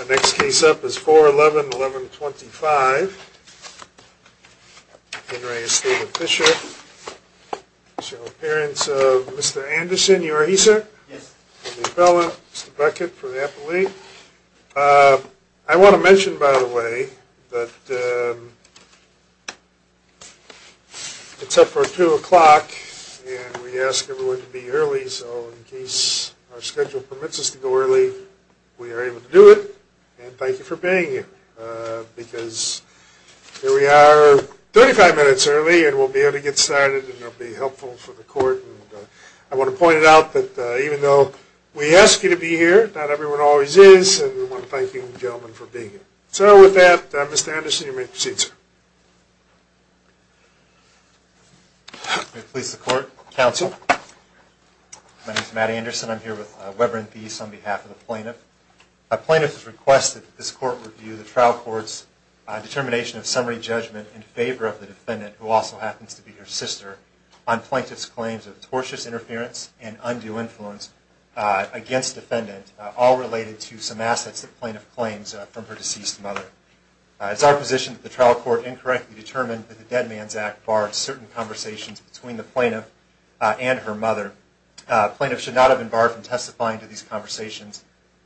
Our next case up is 4-11-1125. Henry and Steven Fisher. Appearance of Mr. Anderson. You are he, sir? Yes. Mr. Bella, Mr. Beckett for the appellate. I want to mention, by the way, that it's up for 2 o'clock and we ask everyone to be early, so in case our schedule permits us to go early, we are able to do it. And thank you for being here, because here we are 35 minutes early and we'll be able to get started and it'll be helpful for the court. I want to point it out that even though we ask you to be here, not everyone always is, and we want to thank you, gentlemen, for being here. So with that, Mr. Anderson, you may proceed, sir. May it please the court, counsel. My name is Matt Anderson. I'm here with Webber and Theis on behalf of the plaintiff. The plaintiff has requested that this court review the trial court's determination of summary judgment in favor of the defendant, who also happens to be her sister, on plaintiff's claims of tortious interference and undue influence against the defendant, all related to some assets the plaintiff claims from her deceased mother. It's our position that the trial court incorrectly determined that the Dead Man's Act should not have barred certain conversations between the plaintiff and her mother. The plaintiff should not have been barred from testifying to these conversations,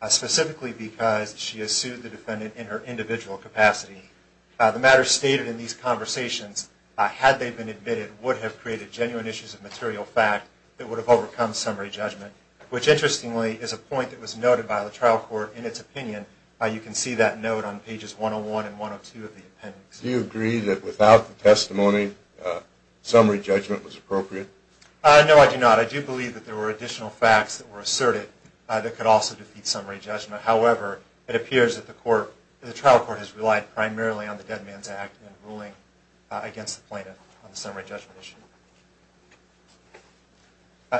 specifically because she has sued the defendant in her individual capacity. The matters stated in these conversations, had they been admitted, would have created genuine issues of material fact that would have overcome summary judgment, which interestingly is a point that was noted by the trial court in its opinion. Do you agree that without the testimony, summary judgment was appropriate? No, I do not. I do believe that there were additional facts that were asserted that could also defeat summary judgment. However, it appears that the trial court has relied primarily on the Dead Man's Act in ruling against the plaintiff on the summary judgment issue.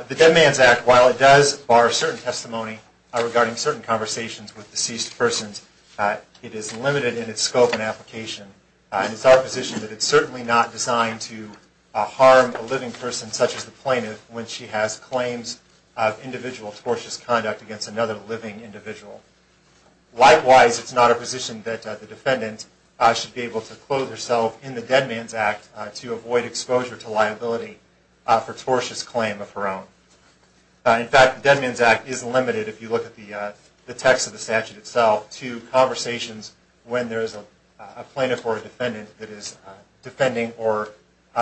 The Dead Man's Act, while it does bar certain testimony regarding certain conversations with deceased persons, it is limited in its scope and application. It's our position that it's certainly not designed to harm a living person such as the plaintiff when she has claims of individual tortious conduct against another living individual. Likewise, it's not our position that the defendant should be able to clothe herself in the Dead Man's Act to avoid exposure to liability for tortious claim of her own. In fact, the Dead Man's Act is limited if you look at the text of the statute itself to conversations when there is a plaintiff or a defendant that is defending or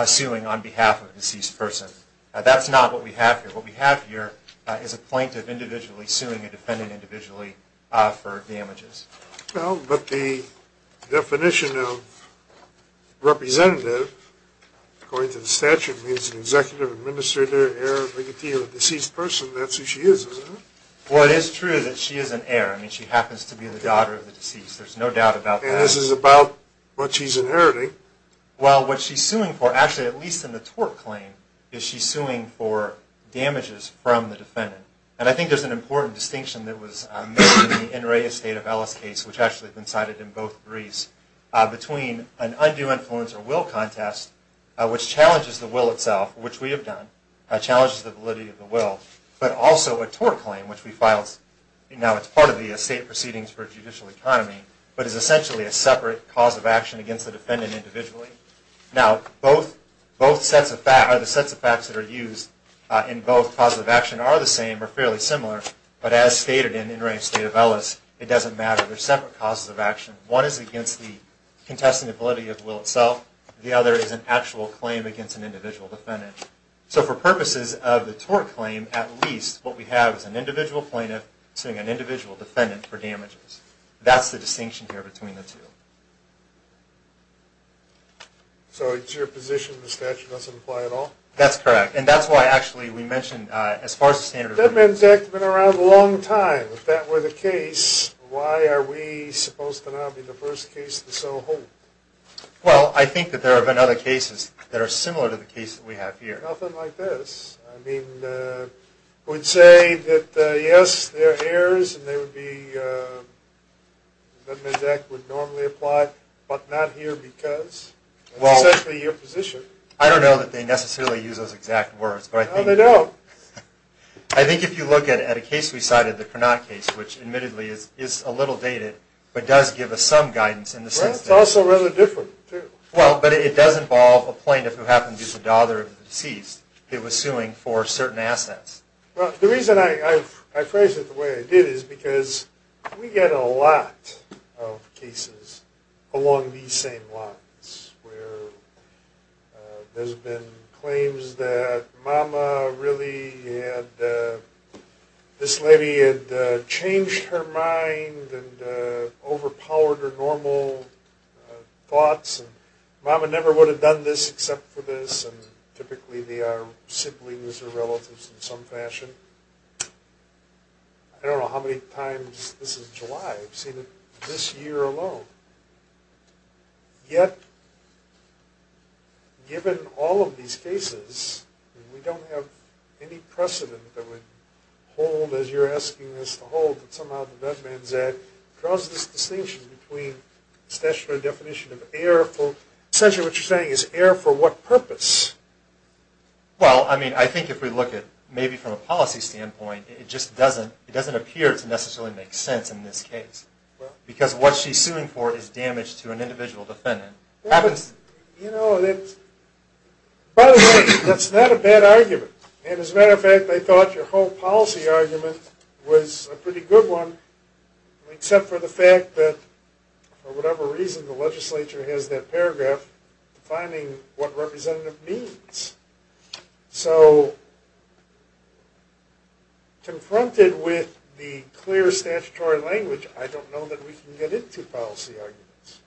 suing on behalf of a deceased person. That's not what we have here. What we have here is a plaintiff individually suing a defendant individually for damages. Well, but the definition of representative, according to the statute, means an executive, administrator, heir, bigotier, or deceased person. That's who she is, isn't it? Well, it is true that she is an heir. I mean, she happens to be the daughter of the deceased. There's no doubt about that. And this is about what she's inheriting. Well, what she's suing for, actually, at least in the tort claim, is she's suing for damages from the defendant. And I think there's an important distinction that was made in the N. Ray Estate of Ellis case, which actually has been cited in both briefs, between an undue influence or will contest, which challenges the will itself, which we have done, challenges the validity of the will, but also a tort claim, which we filed. Now, it's part of the estate proceedings for judicial economy, but is essentially a separate cause of action against the defendant individually. Now, both sets of facts that are used in both causes of action are the same or fairly similar, but as stated in N. Ray Estate of Ellis, it doesn't matter. They're separate causes of action. One is against the contested validity of the will itself. The other is an actual claim against an individual defendant. So for purposes of the tort claim, at least what we have is an individual plaintiff suing an individual defendant for damages. That's the distinction here between the two. So it's your position the statute doesn't apply at all? That's correct. And that's why, actually, we mentioned, as far as the standard... Dead Men's Act has been around a long time. If that were the case, why are we supposed to now be the first case to so hold? Well, I think that there have been other cases that are similar to the case that we have here. Nothing like this. I mean, we'd say that, yes, there are errors and they would be... Dead Men's Act would normally apply, but not here because... Well... That's essentially your position. I don't know that they necessarily use those exact words, but I think... No, they don't. I think if you look at a case we cited, the Cronaut case, which admittedly is a little dated, but does give us some guidance in the sense that... Well, it's also rather different, too. Well, but it does involve a plaintiff who happens to be the daughter of the deceased who was suing for certain assets. Well, the reason I phrase it the way I did is because we get a lot of cases along these same lines, where there's been claims that Mama really had... This lady had changed her mind and overpowered her normal thoughts, and Mama never would have done this except for this, and typically they are siblings or relatives in some fashion. I don't know how many times this is July. I've seen it this year alone. Yet, given all of these cases, we don't have any precedent that would hold, as you're asking us to hold, that somehow the Vet Men's Act draws this distinction between statutory definition of errorful... Essentially what you're saying is error for what purpose? Well, I mean, I think if we look at it maybe from a policy standpoint, it just doesn't appear to necessarily make sense in this case. Because what she's suing for is damage to an individual defendant. By the way, that's not a bad argument. As a matter of fact, they thought your whole policy argument was a pretty good one, except for the fact that, for whatever reason, the legislature has that paragraph defining what representative means. So, confronted with the clear statutory language, I don't know that we can get into policy arguments.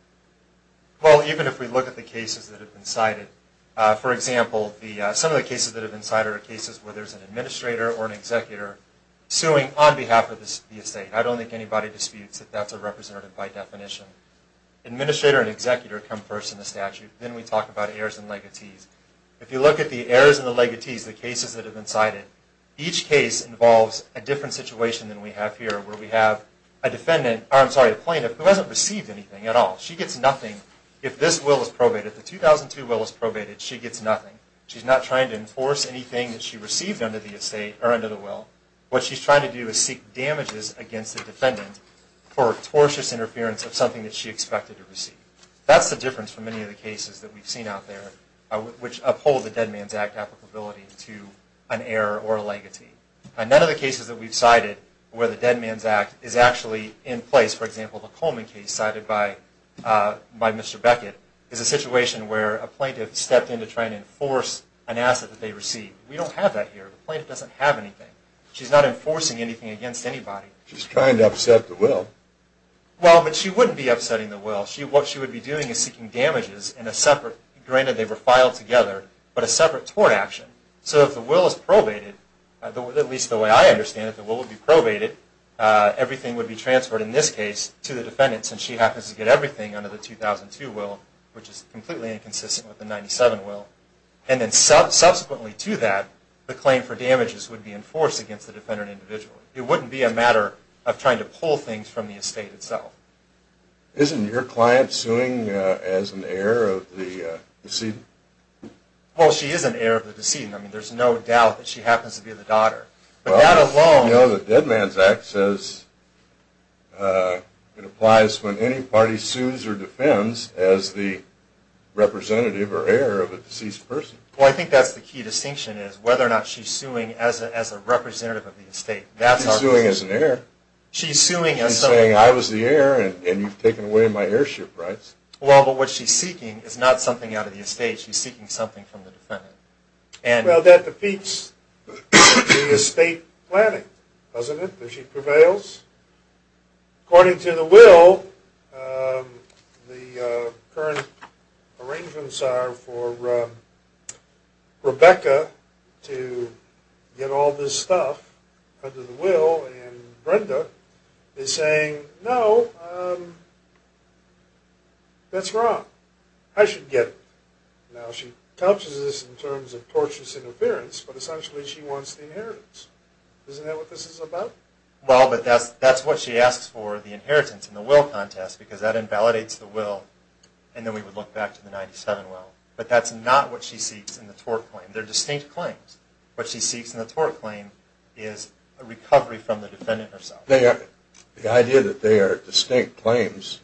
Well, even if we look at the cases that have been cited. For example, some of the cases that have been cited are cases where there's an administrator or an executor suing on behalf of the estate. I don't think anybody disputes that that's a representative by definition. Administrator and executor come first in the statute. Then we talk about errors and legatees. If you look at the errors and the legatees, the cases that have been cited, each case involves a different situation than we have here, where we have a plaintiff who hasn't received anything at all. She gets nothing if this will is probated. If the 2002 will is probated, she gets nothing. She's not trying to enforce anything that she received under the will. What she's trying to do is seek damages against the defendant for tortious interference of something that she expected to receive. That's the difference for many of the cases that we've seen out there, which uphold the Dead Man's Act applicability to an error or a legatee. None of the cases that we've cited where the Dead Man's Act is actually in place, for example, the Coleman case cited by Mr. Beckett, is a situation where a plaintiff stepped in to try and enforce an asset that they received. We don't have that here. The plaintiff doesn't have anything. She's not enforcing anything against anybody. She's trying to upset the will. Well, but she wouldn't be upsetting the will. What she would be doing is seeking damages in a separate, granted they were filed together, but a separate tort action. So if the will is probated, at least the way I understand it, the will would be probated. Everything would be transferred, in this case, to the defendants, and she happens to get everything under the 2002 will, which is completely inconsistent with the 1997 will. And then subsequently to that, the claim for damages would be enforced against the defendant individually. So it wouldn't be a matter of trying to pull things from the estate itself. Isn't your client suing as an heir of the decedent? Well, she is an heir of the decedent. I mean, there's no doubt that she happens to be the daughter. But that alone. You know, the Dead Man's Act says it applies when any party sues or defends as the representative or heir of a deceased person. Well, I think that's the key distinction, is whether or not she's suing as a representative of the estate. She's suing as an heir. She's suing as someone. She's saying, I was the heir, and you've taken away my heirship rights. Well, but what she's seeking is not something out of the estate. She's seeking something from the defendant. Well, that defeats the estate planning, doesn't it, that she prevails? According to the will, the current arrangements are for Rebecca to get all this stuff under the will, and Brenda is saying, no, that's wrong. I should get it. Now, she touches this in terms of torturous interference, but essentially she wants the inheritance. Isn't that what this is about? Well, but that's what she asks for, the inheritance in the will contest, because that invalidates the will, and then we would look back to the 97 will. But that's not what she seeks in the tort claim. They're distinct claims. What she seeks in the tort claim is a recovery from the defendant herself. The idea that they are distinct claims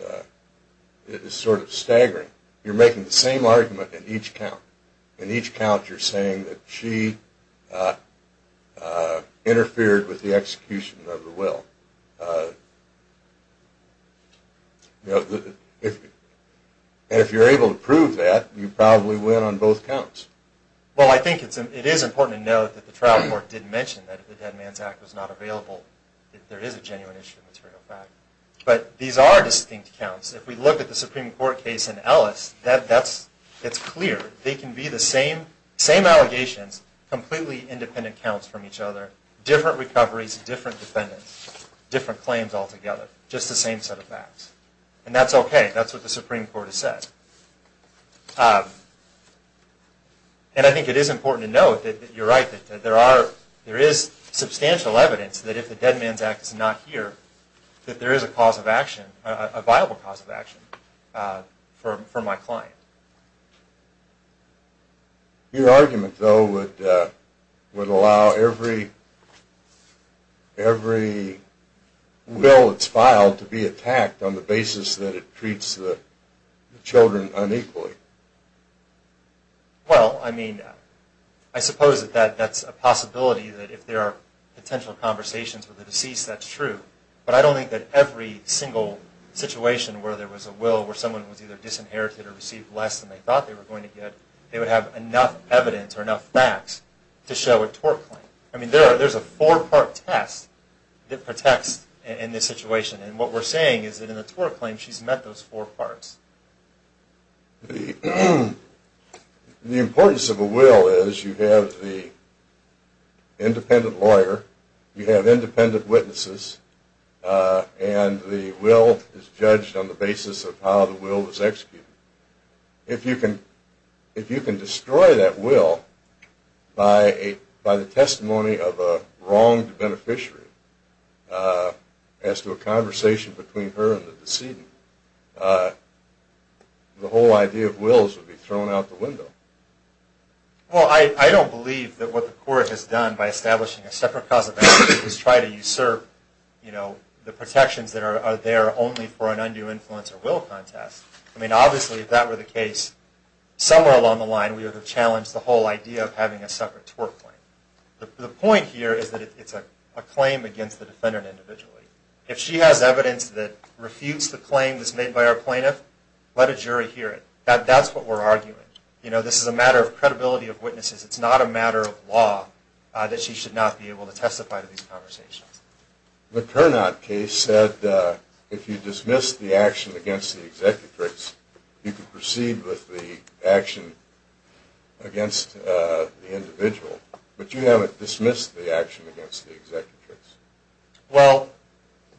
is sort of staggering. You're making the same argument in each count. You're saying that she interfered with the execution of the will. And if you're able to prove that, you probably win on both counts. Well, I think it is important to note that the trial court did mention that if the Dead Man's Act was not available, that there is a genuine issue of material fact. But these are distinct counts. If we look at the Supreme Court case in Ellis, that's clear. They can be the same allegations, completely independent counts from each other, different recoveries, different defendants, different claims altogether, just the same set of facts. And that's okay. That's what the Supreme Court has said. And I think it is important to note that you're right, that there is substantial evidence that if the Dead Man's Act is not here, that there is a cause of action, a viable cause of action for my client. Your argument, though, would allow every will that's filed to be attacked on the basis that it treats the children unequally. Well, I mean, I suppose that that's a possibility, that if there are potential conversations with the deceased, that's true. But I don't think that every single situation where there was a will where someone was either disinherited or received less than they thought they were going to get, they would have enough evidence or enough facts to show a tort claim. I mean, there's a four-part test that protects in this situation. And what we're saying is that in a tort claim, she's met those four parts. The importance of a will is you have the independent lawyer, you have independent witnesses, and the will is judged on the basis of how the will was executed. If you can destroy that will by the testimony of a wronged beneficiary as to a conversation between her and the decedent, the whole idea of wills would be thrown out the window. Well, I don't believe that what the court has done by establishing a separate cause of action is try to usurp the protections that are there only for an undue influence or will contest. I mean, obviously, if that were the case, somewhere along the line, we would have challenged the whole idea of having a separate tort claim. The point here is that it's a claim against the defendant individually. If she has evidence that refutes the claim that's made by our plaintiff, let a jury hear it. That's what we're arguing. You know, this is a matter of credibility of witnesses. It's not a matter of law that she should not be able to testify to these conversations. The Cournot case said if you dismissed the action against the executrix, you could proceed with the action against the individual, but you haven't dismissed the action against the executrix. Well,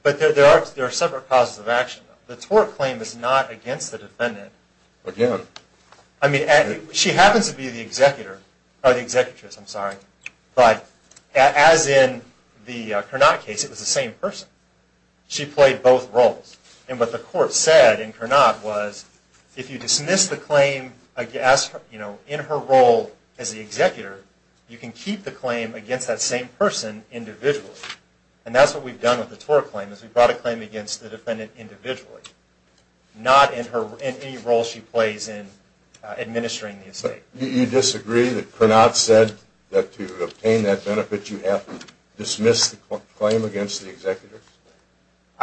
but there are separate causes of action. The tort claim is not against the defendant. Again. I mean, she happens to be the executor, or the executrix, I'm sorry, but as in the Cournot case, it was the same person. She played both roles. And what the court said in Cournot was if you dismiss the claim in her role as the executor, you can keep the claim against that same person individually. And that's what we've done with the tort claim, is we've brought a claim against the defendant individually, not in any role she plays in administering the estate. You disagree that Cournot said that to obtain that benefit, you have to dismiss the claim against the executor?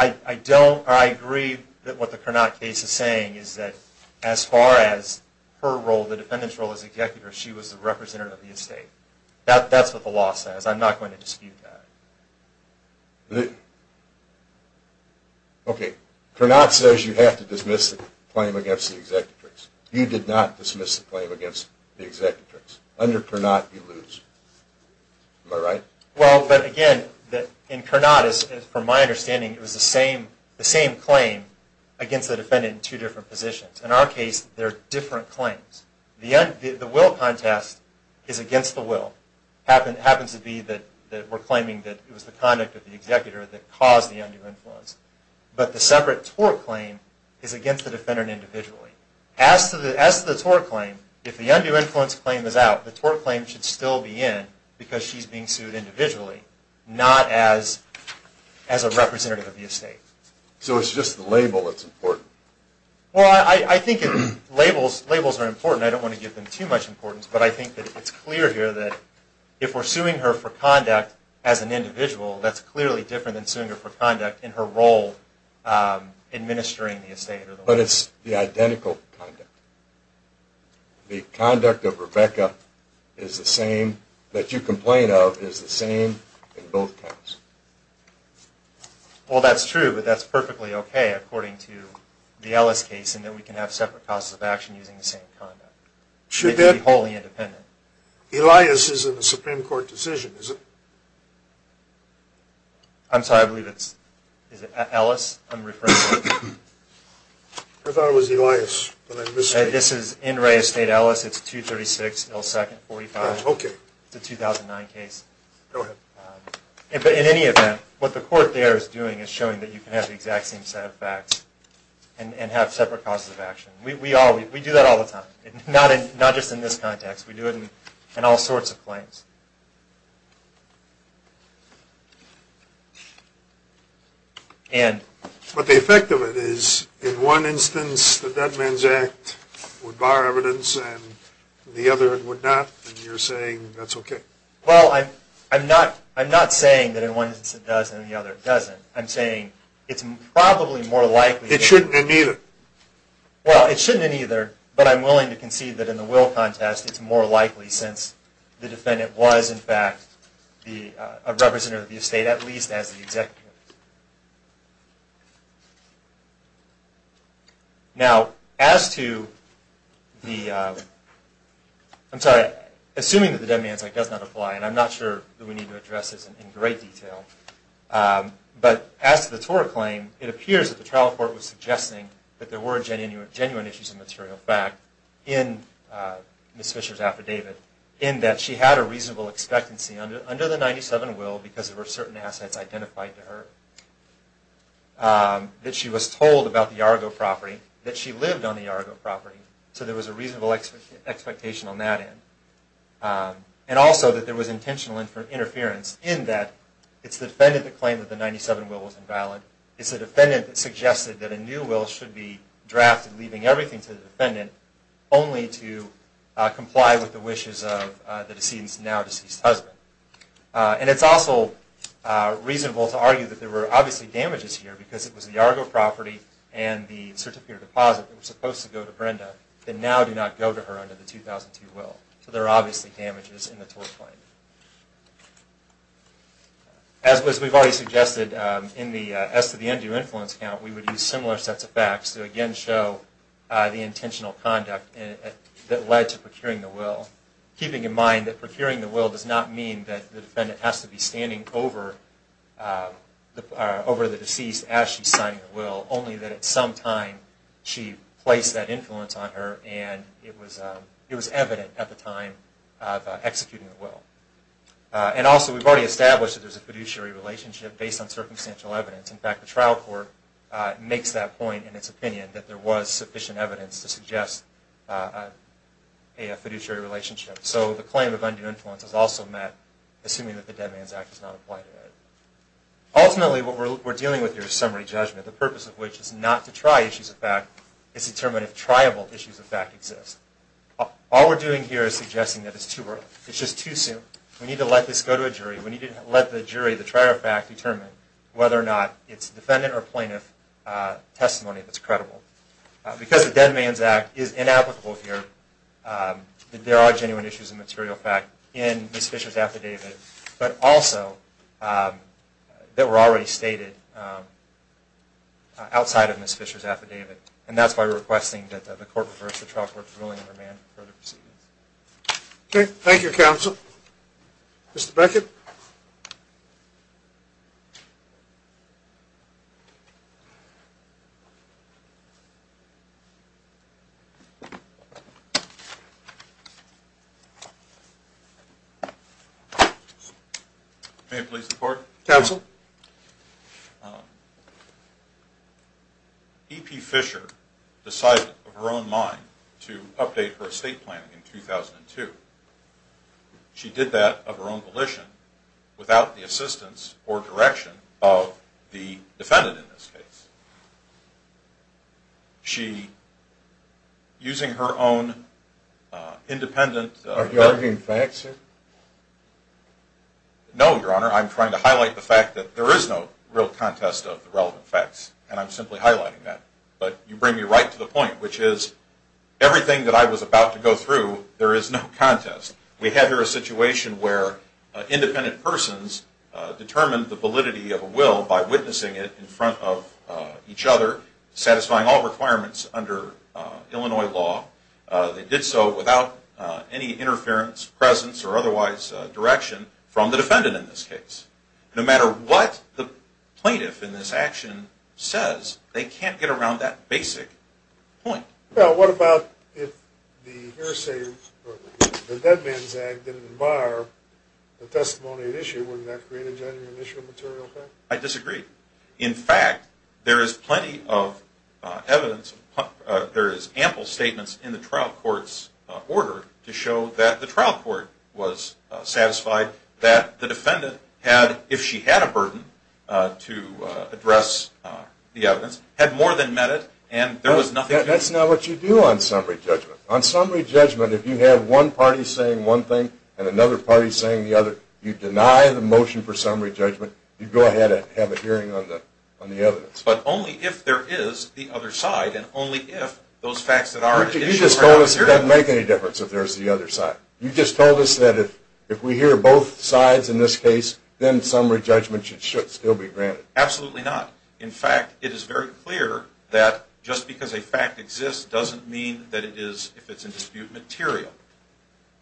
I don't. I agree that what the Cournot case is saying is that as far as her role, the defendant's role as executor, she was the representative of the estate. That's what the law says. I'm not going to dispute that. Okay. Cournot says you have to dismiss the claim against the executrix. You did not dismiss the claim against the executrix. Under Cournot, you lose. Am I right? Well, but again, in Cournot, from my understanding, it was the same claim against the defendant in two different positions. In our case, they're different claims. The will contest is against the will. It happens to be that we're claiming that it was the conduct of the executor that caused the undue influence. But the separate tort claim is against the defendant individually. As to the tort claim, if the undue influence claim is out, the tort claim should still be in because she's being sued individually, not as a representative of the estate. So it's just the label that's important. Well, I think labels are important. I don't want to give them too much importance. But I think that it's clear here that if we're suing her for conduct as an individual, that's clearly different than suing her for conduct in her role administering the estate. But it's the identical conduct. The conduct of Rebecca that you complain of is the same in both cases. Well, that's true. But that's perfectly okay according to the Ellis case in that we can have separate causes of action using the same conduct. It could be wholly independent. Elias is in the Supreme Court decision, isn't it? I'm sorry. I believe it's Ellis. I'm referring to him. I thought it was Elias. This is in Ray Estate, Ellis. It's 236 L. Second, 45. Okay. It's a 2009 case. Go ahead. In any event, what the court there is doing is showing that you can have the exact same set of facts and have separate causes of action. We do that all the time. Not just in this context. We do it in all sorts of claims. But the effect of it is, in one instance the Dead Man's Act would bar evidence and in the other it would not. And you're saying that's okay. Well, I'm not saying that in one instance it does and in the other it doesn't. I'm saying it's probably more likely. It shouldn't in either. Well, it shouldn't in either. But I'm willing to concede that in the will contest it's more likely since the defendant willed it. The defendant was, in fact, a representative of the estate, at least as the executive. Now, as to the, I'm sorry, assuming that the Dead Man's Act does not apply, and I'm not sure that we need to address this in great detail, but as to the Torah claim, it appears that the trial court was suggesting that there were genuine issues of material fact in Ms. Fisher's affidavit in that she had a reasonable expectancy under the 97 will because there were certain assets identified to her, that she was told about the Yargo property, that she lived on the Yargo property, so there was a reasonable expectation on that end. And also that there was intentional interference in that it's the defendant that claimed that the 97 will was invalid. It's the defendant that suggested that a new will should be drafted, leaving everything to the defendant, only to comply with the wishes of the decedent's now deceased husband. And it's also reasonable to argue that there were obviously damages here because it was the Yargo property and the certificate of deposit that were supposed to go to Brenda that now do not go to her under the 2002 will. So there are obviously damages in the Torah claim. As we've already suggested, in the S to the N do influence count, we would use similar sets of facts to again show the intentional conduct that led to procuring the will, keeping in mind that procuring the will does not mean that the defendant has to be standing over the deceased as she's signing the will, only that at some time she placed that influence on her and it was evident at the time of executing the will. And also we've already established that there's a fiduciary relationship based on circumstantial evidence. In fact, the trial court makes that point in its opinion, that there was sufficient evidence to suggest a fiduciary relationship. So the claim of undue influence is also met, assuming that the Dead Man's Act is not applied to it. Ultimately, what we're dealing with here is summary judgment, the purpose of which is not to try issues of fact, it's determined if triable issues of fact exist. All we're doing here is suggesting that it's too early, it's just too soon. We need to let this go to a jury. We need to let the jury, the trier of fact, determine whether or not it's defendant or plaintiff testimony that's credible. Because the Dead Man's Act is inapplicable here, there are genuine issues of material fact in Ms. Fisher's affidavit, but also that were already stated outside of Ms. Fisher's affidavit. And that's why we're requesting that the court reverse the trial court's ruling and remand further proceedings. Okay. Thank you, counsel. Mr. Beckett? May it please the court? Counsel? EP Fisher decided of her own mind to update her estate plan in 2002. She did that of her own volition, without the assistance or direction of the defendant in this case. She, using her own independent... Are you arguing facts, sir? No, Your Honor. I'm trying to highlight the fact that there is no real contest of the relevant facts, and I'm simply highlighting that. But you bring me right to the point, which is everything that I was about to go through, there is no contest. We have here a situation where independent persons determined the validity of a will by witnessing it in front of each other, satisfying all requirements under Illinois law. They did so without any interference, presence, or otherwise direction from the defendant in this case. No matter what the plaintiff in this action says, they can't get around that basic point. Well, what about if the hearsay or the dead man's act didn't admire the testimony at issue, wouldn't that create a genuine issue of material effect? I disagree. In fact, there is plenty of evidence, there is ample statements in the trial court's order to show that the trial court was satisfied that the defendant had, if she had a burden to address the evidence, had more than met it, and there was nothing... That's not what you do on summary judgment. On summary judgment, if you have one party saying one thing and another party saying the other, you deny the motion for summary judgment, you go ahead and have a hearing on the evidence. But only if there is the other side, and only if those facts that are at issue... Richard, you just told us it doesn't make any difference if there's the other side. You just told us that if we hear both sides in this case, then summary judgment should still be granted. Absolutely not. In fact, it is very clear that just because a fact exists doesn't mean that it is, if it's in dispute, material.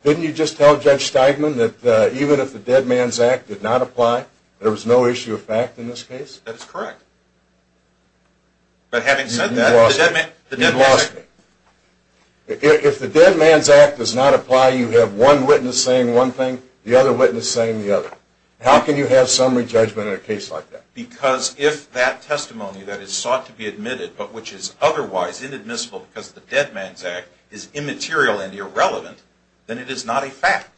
Didn't you just tell Judge Steigman that even if the Dead Man's Act did not apply, there was no issue of fact in this case? That is correct. But having said that, the Dead Man's Act... You lost me. If the Dead Man's Act does not apply, you have one witness saying one thing, the other witness saying the other. How can you have summary judgment in a case like that? Because if that testimony that is sought to be admitted, but which is otherwise inadmissible because the Dead Man's Act is immaterial and irrelevant, then it is not a fact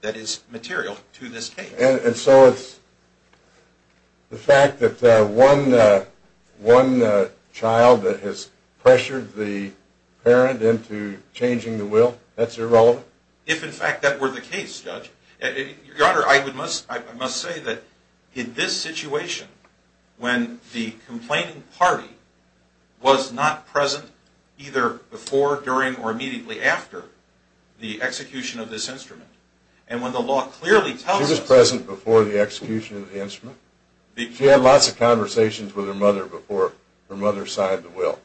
that is material to this case. And so it's the fact that one child that has pressured the parent into changing the will, that's irrelevant? If, in fact, that were the case, Judge. Your Honor, I must say that in this situation, when the complaining party was not present either before, during, or immediately after the execution of this instrument, and when the law clearly tells us... She was present before the execution of the instrument? She had lots of conversations with her mother before her mother signed the will,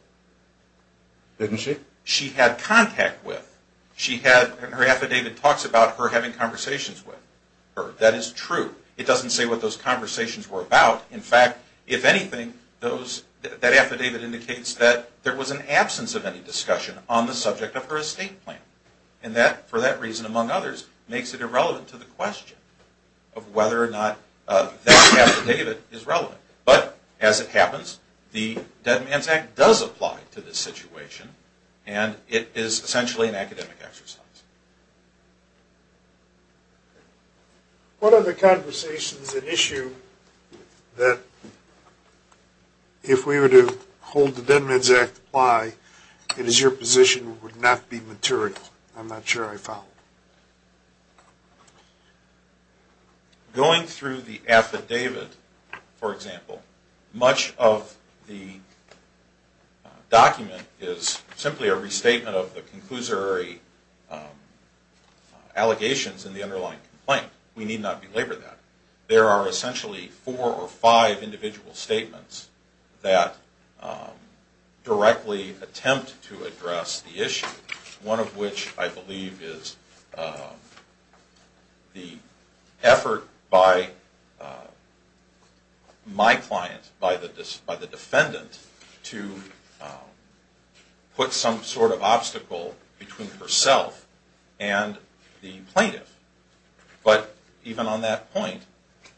didn't she? She had contact with. Her affidavit talks about her having conversations with her. That is true. It doesn't say what those conversations were about. In fact, if anything, that affidavit indicates that there was an absence of any discussion on the subject of her estate plan. And that, for that reason among others, makes it irrelevant to the question of whether or not that affidavit is relevant. But, as it happens, the Dead Man's Act does apply to this situation, and it is essentially an academic exercise. What are the conversations at issue that, if we were to hold the Dead Man's Act apply, it is your position would not be material? I'm not sure I follow. Going through the affidavit, for example, much of the document is simply a restatement of the conclusory allegations in the underlying complaint. We need not belabor that. There are essentially four or five individual statements that directly attempt to address the issue, one of which I believe is the effort by my client, by the defendant, to put some sort of obstacle between herself and the plaintiff. But even on that point,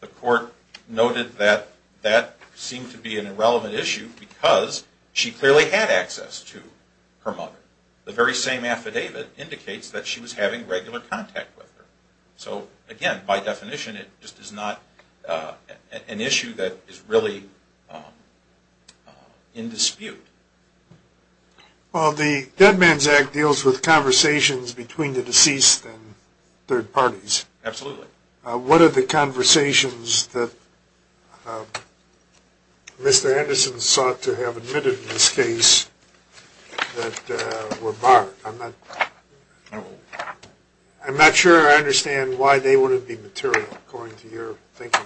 the court noted that that seemed to be an irrelevant issue because she clearly had access to her mother. The very same affidavit indicates that she was having regular contact with her. So, again, by definition, it just is not an issue that is really in dispute. Well, the Dead Man's Act deals with conversations between the deceased and third parties. Absolutely. What are the conversations that Mr. Anderson sought to have admitted in this case that were barred? I'm not sure I understand why they wouldn't be material, according to your thinking.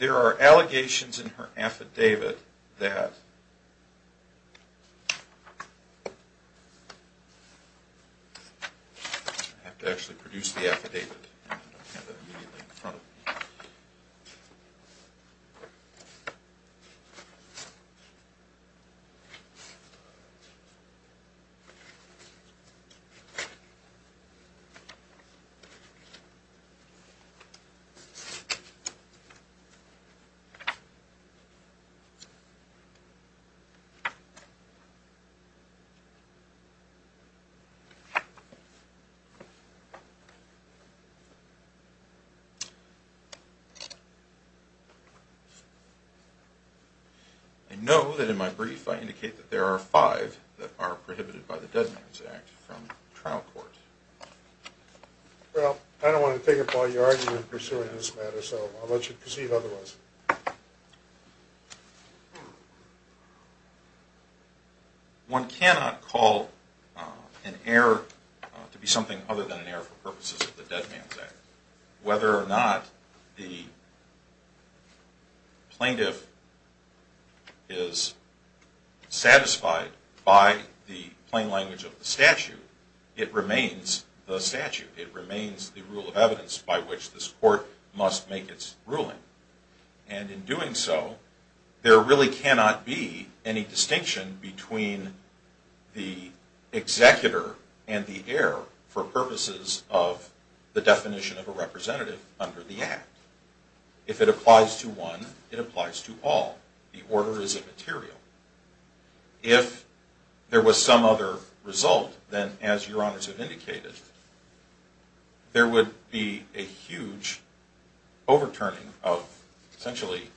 There are allegations in her affidavit that... I have to actually produce the affidavit and have it immediately in front of me. Okay. I know that in my brief I indicate that there are five that are prohibited by the Dead Man's Act from trial court. Well, I don't want to take up all your argument in pursuing this matter, so I'll let you proceed otherwise. One cannot call an error to be something other than an error for purposes of the Dead Man's Act. Whether or not the plaintiff is satisfied by the plain language of the statute, it remains the statute. It remains the rule of evidence by which this court must make its ruling. And in doing so, there really cannot be any distinction between the executor and the heir for purposes of the definition of a representative under the Act. If it applies to one, it applies to all. The order is immaterial. If there was some other result, then as your honors have indicated, there would be a huge overturning of essentially...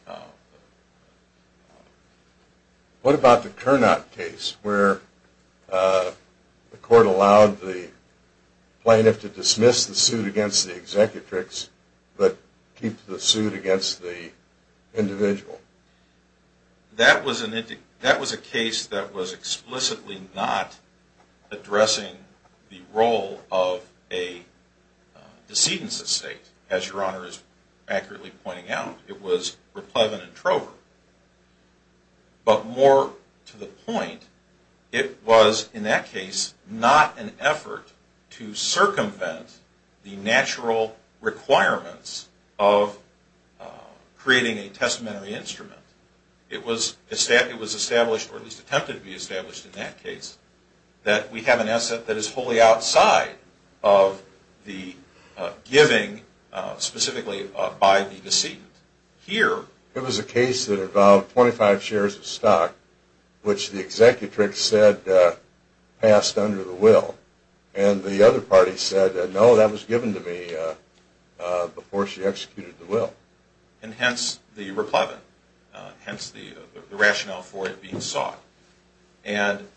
What about the Cournot case where the court allowed the plaintiff to dismiss the suit against the executrix but keep the suit against the individual? That was a case that was explicitly not addressing the role of a decedent's estate, as your honor is accurately pointing out. It was replevin and trover. But more to the point, it was in that case not an effort to circumvent the natural requirements of creating a testamentary instrument. It was established, or at least attempted to be established in that case, that we have an asset that is wholly outside of the giving specifically by the decedent. Here... It was a case that involved 25 shares of stock, which the executrix said passed under the will. And the other party said, no, that was given to me before she executed the will. And hence the replevin, hence the rationale for it being sought. And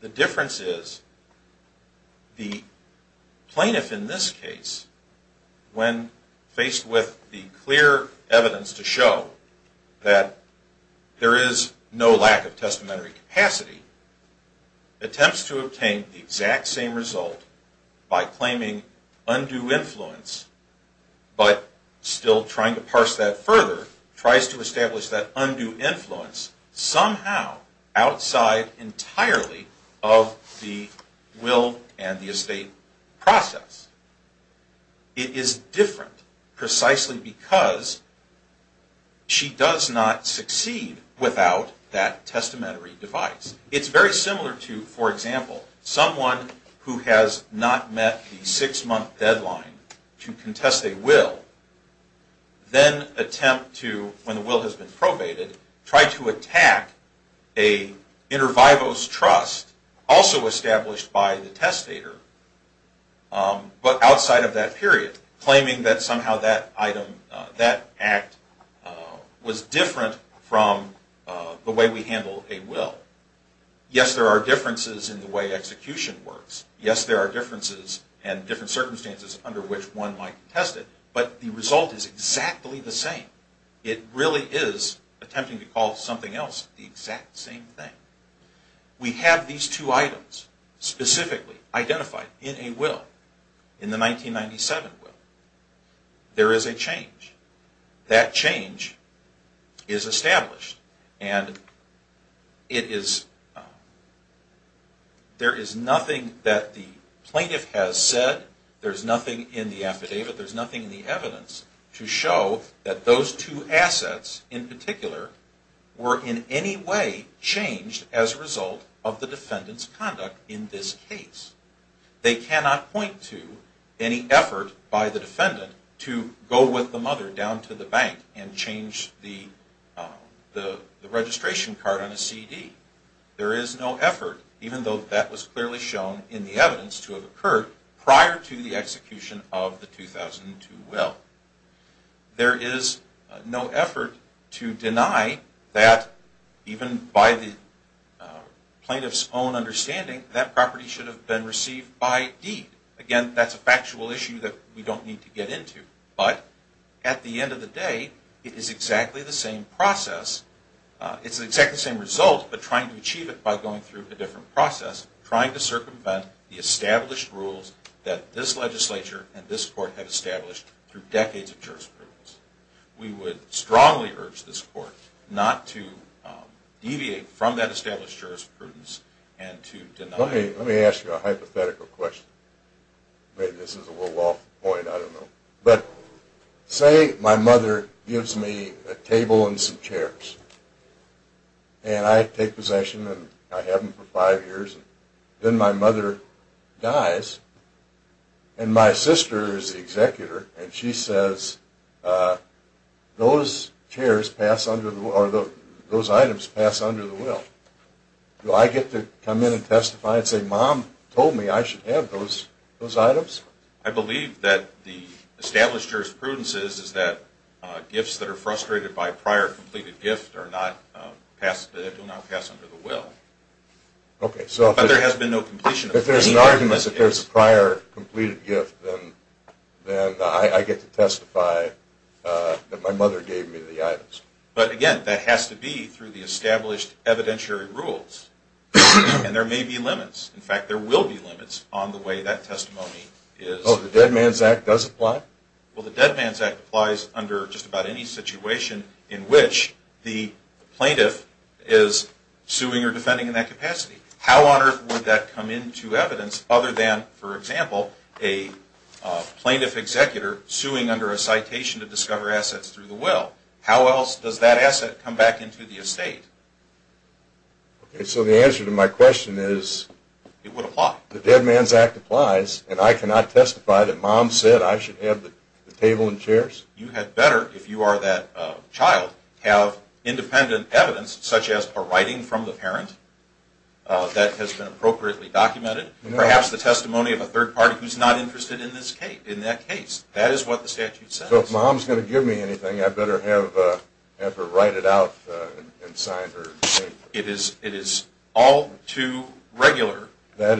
the difference is the plaintiff in this case, when faced with the clear evidence to show that there is no lack of testamentary capacity, attempts to obtain the exact same result by claiming undue influence, but still trying to parse that further, tries to establish that undue influence somehow outside entirely of the will and the estate process. It is different precisely because she does not succeed without that testamentary device. It's very similar to, for example, someone who has not met the six-month deadline to contest a will, then attempt to, when the will has been probated, try to attack an inter vivos trust also established by the testator, but outside of that period, claiming that somehow that item, that act, was different from the way we handle a will. Yes, there are differences in the way execution works. Yes, there are differences and different circumstances under which one might contest it. But the result is exactly the same. It really is attempting to call something else the exact same thing. We have these two items specifically identified in a will, in the 1997 will. There is a change. That change is established. And it is, there is nothing that the plaintiff has said. There is nothing in the affidavit. There is nothing in the evidence to show that those two assets in particular were in any way changed as a result of the defendant's conduct in this case. They cannot point to any effort by the defendant to go with the mother down to the bank and change the registration card on a CD. There is no effort, even though that was clearly shown in the evidence to have occurred, prior to the execution of the 2002 will. There is no effort to deny that even by the plaintiff's own understanding, that property should have been received by deed. Again, that's a factual issue that we don't need to get into. But at the end of the day, it is exactly the same process. It's exactly the same result, but trying to achieve it by going through a different process, trying to circumvent the established rules that this legislature and this court have established through decades of jurisprudence. We would strongly urge this court not to deviate from that established jurisprudence and to deny it. Let me ask you a hypothetical question. Maybe this is a little off the point, I don't know. But say my mother gives me a table and some chairs, and I take possession and I have them for five years. Then my mother dies, and my sister is the executor, and she says, those items pass under the will. Do I get to come in and testify and say, Mom told me I should have those items? I believe that the established jurisprudence is that gifts that are frustrated by prior completed gifts do not pass under the will. Okay, so if there's an argument that there's a prior completed gift, then I get to testify that my mother gave me the items. But again, that has to be through the established evidentiary rules. And there may be limits. In fact, there will be limits on the way that testimony is. Oh, the Dead Man's Act does apply? Well, the Dead Man's Act applies under just about any situation in which the plaintiff is suing or defending in that capacity. How on earth would that come into evidence other than, for example, a plaintiff executor suing under a citation to discover assets through the will? How else does that asset come back into the estate? Okay, so the answer to my question is the Dead Man's Act applies, and I cannot testify that Mom said I should have the table and chairs? You had better, if you are that child, have independent evidence, such as a writing from the parent that has been appropriately documented, and perhaps the testimony of a third party who's not interested in that case. That is what the statute says. So if Mom's going to give me anything, I better have her write it out and sign her name. It is all too regular that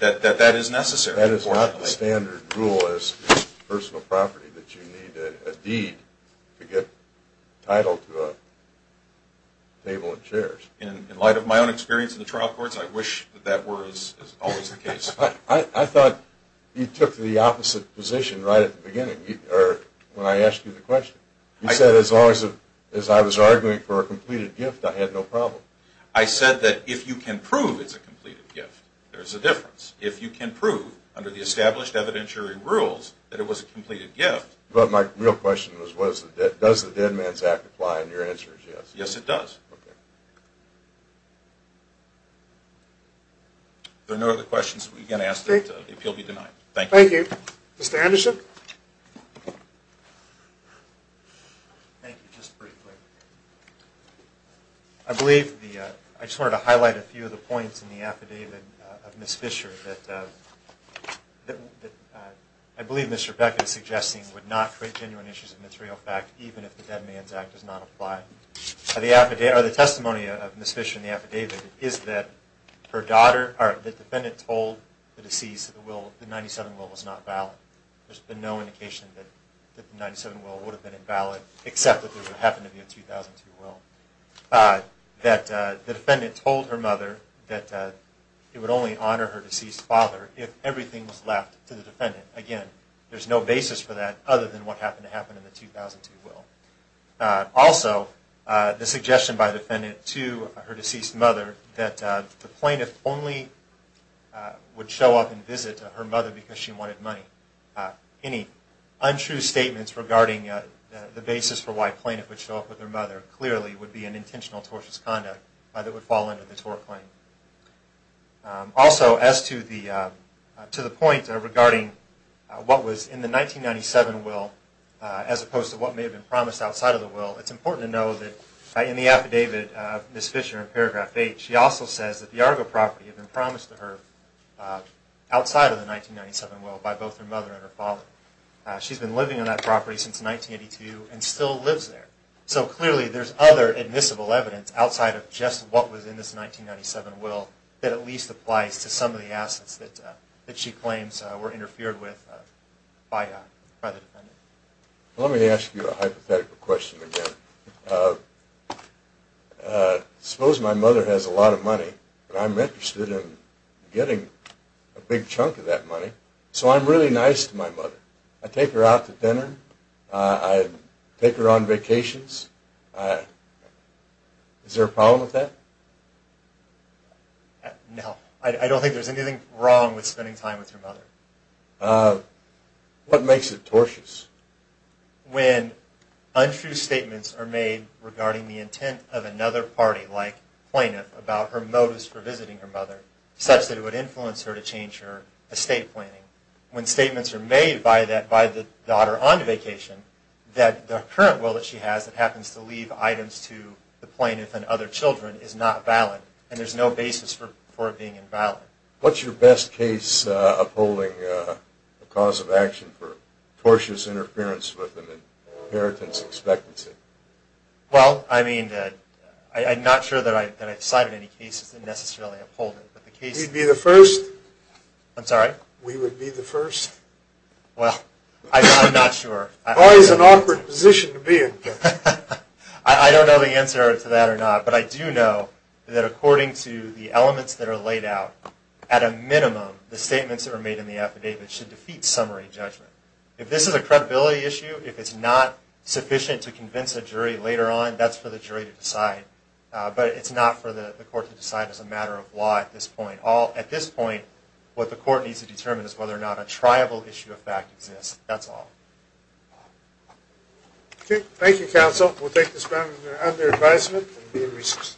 that is necessary. That is not the standard rule as personal property, that you need a deed to get title to a table and chairs. In light of my own experience in the trial courts, I wish that that was always the case. I thought you took the opposite position right at the beginning when I asked you the question. You said as long as I was arguing for a completed gift, I had no problem. I said that if you can prove it's a completed gift, there's a difference. If you can prove under the established evidentiary rules that it was a completed gift... But my real question was, does the Dead Man's Act apply? And your answer is yes. Yes, it does. There are no other questions that we can ask that the appeal be denied. Thank you. Thank you. Mr. Anderson? Thank you. Just briefly. I just wanted to highlight a few of the points in the affidavit of Ms. Fisher that I believe Mr. Beckett is suggesting would not create genuine issues of material fact even if the Dead Man's Act does not apply. The testimony of Ms. Fisher in the affidavit is that the defendant told the deceased that the 97 will was not valid. There's been no indication that the 97 will would have been invalid except that there would happen to be a 2002 will. That the defendant told her mother that it would only honor her deceased father if everything was left to the defendant. Again, there's no basis for that other than what happened to happen in the 2002 will. Also, the suggestion by the defendant to her deceased mother that the plaintiff only would show up and visit her mother because she wanted money. Any untrue statements regarding the basis for why a plaintiff would show up with her mother clearly would be an intentional tortious conduct that would fall under the tort claim. Also, as to the point regarding what was in the 1997 will as opposed to what may have been promised outside of the will, it's important to know that in the affidavit, Ms. Fisher in paragraph 8, she also says that the Argo property had been promised to her outside of the 1997 will by both her mother and her father. She's been living on that property since 1982 and still lives there. So clearly there's other admissible evidence outside of just what was in this 1997 will that at least applies to some of the assets that she claims were interfered with by the defendant. Let me ask you a hypothetical question again. Suppose my mother has a lot of money and I'm interested in getting a big chunk of that money. So I'm really nice to my mother. I take her out to dinner. I take her on vacations. Is there a problem with that? No, I don't think there's anything wrong with spending time with your mother. What makes it tortious? When untrue statements are made regarding the intent of another party like plaintiff about her motives for visiting her mother such that it would influence her to change her estate planning. When statements are made by the daughter on vacation that the current will that she has that happens to leave items to the plaintiff and other children is not valid. And there's no basis for it being invalid. What's your best case upholding a cause of action for tortious interference with an inheritance expectancy? Well, I mean, I'm not sure that I've cited any cases that necessarily uphold it. You'd be the first. I'm sorry? We would be the first. Well, I'm not sure. Always an awkward position to be in. I don't know the answer to that or not, but I do know that according to the elements that are laid out at a minimum the statements that are made in the affidavit should defeat summary judgment. If this is a credibility issue, if it's not sufficient to convince a jury later on, that's for the jury to decide. But it's not for the court to decide as a matter of law at this point. At this point, what the court needs to determine is whether or not a triable issue of fact exists. That's all. Okay. Thank you, counsel. We'll take this matter under advisement and be in recess.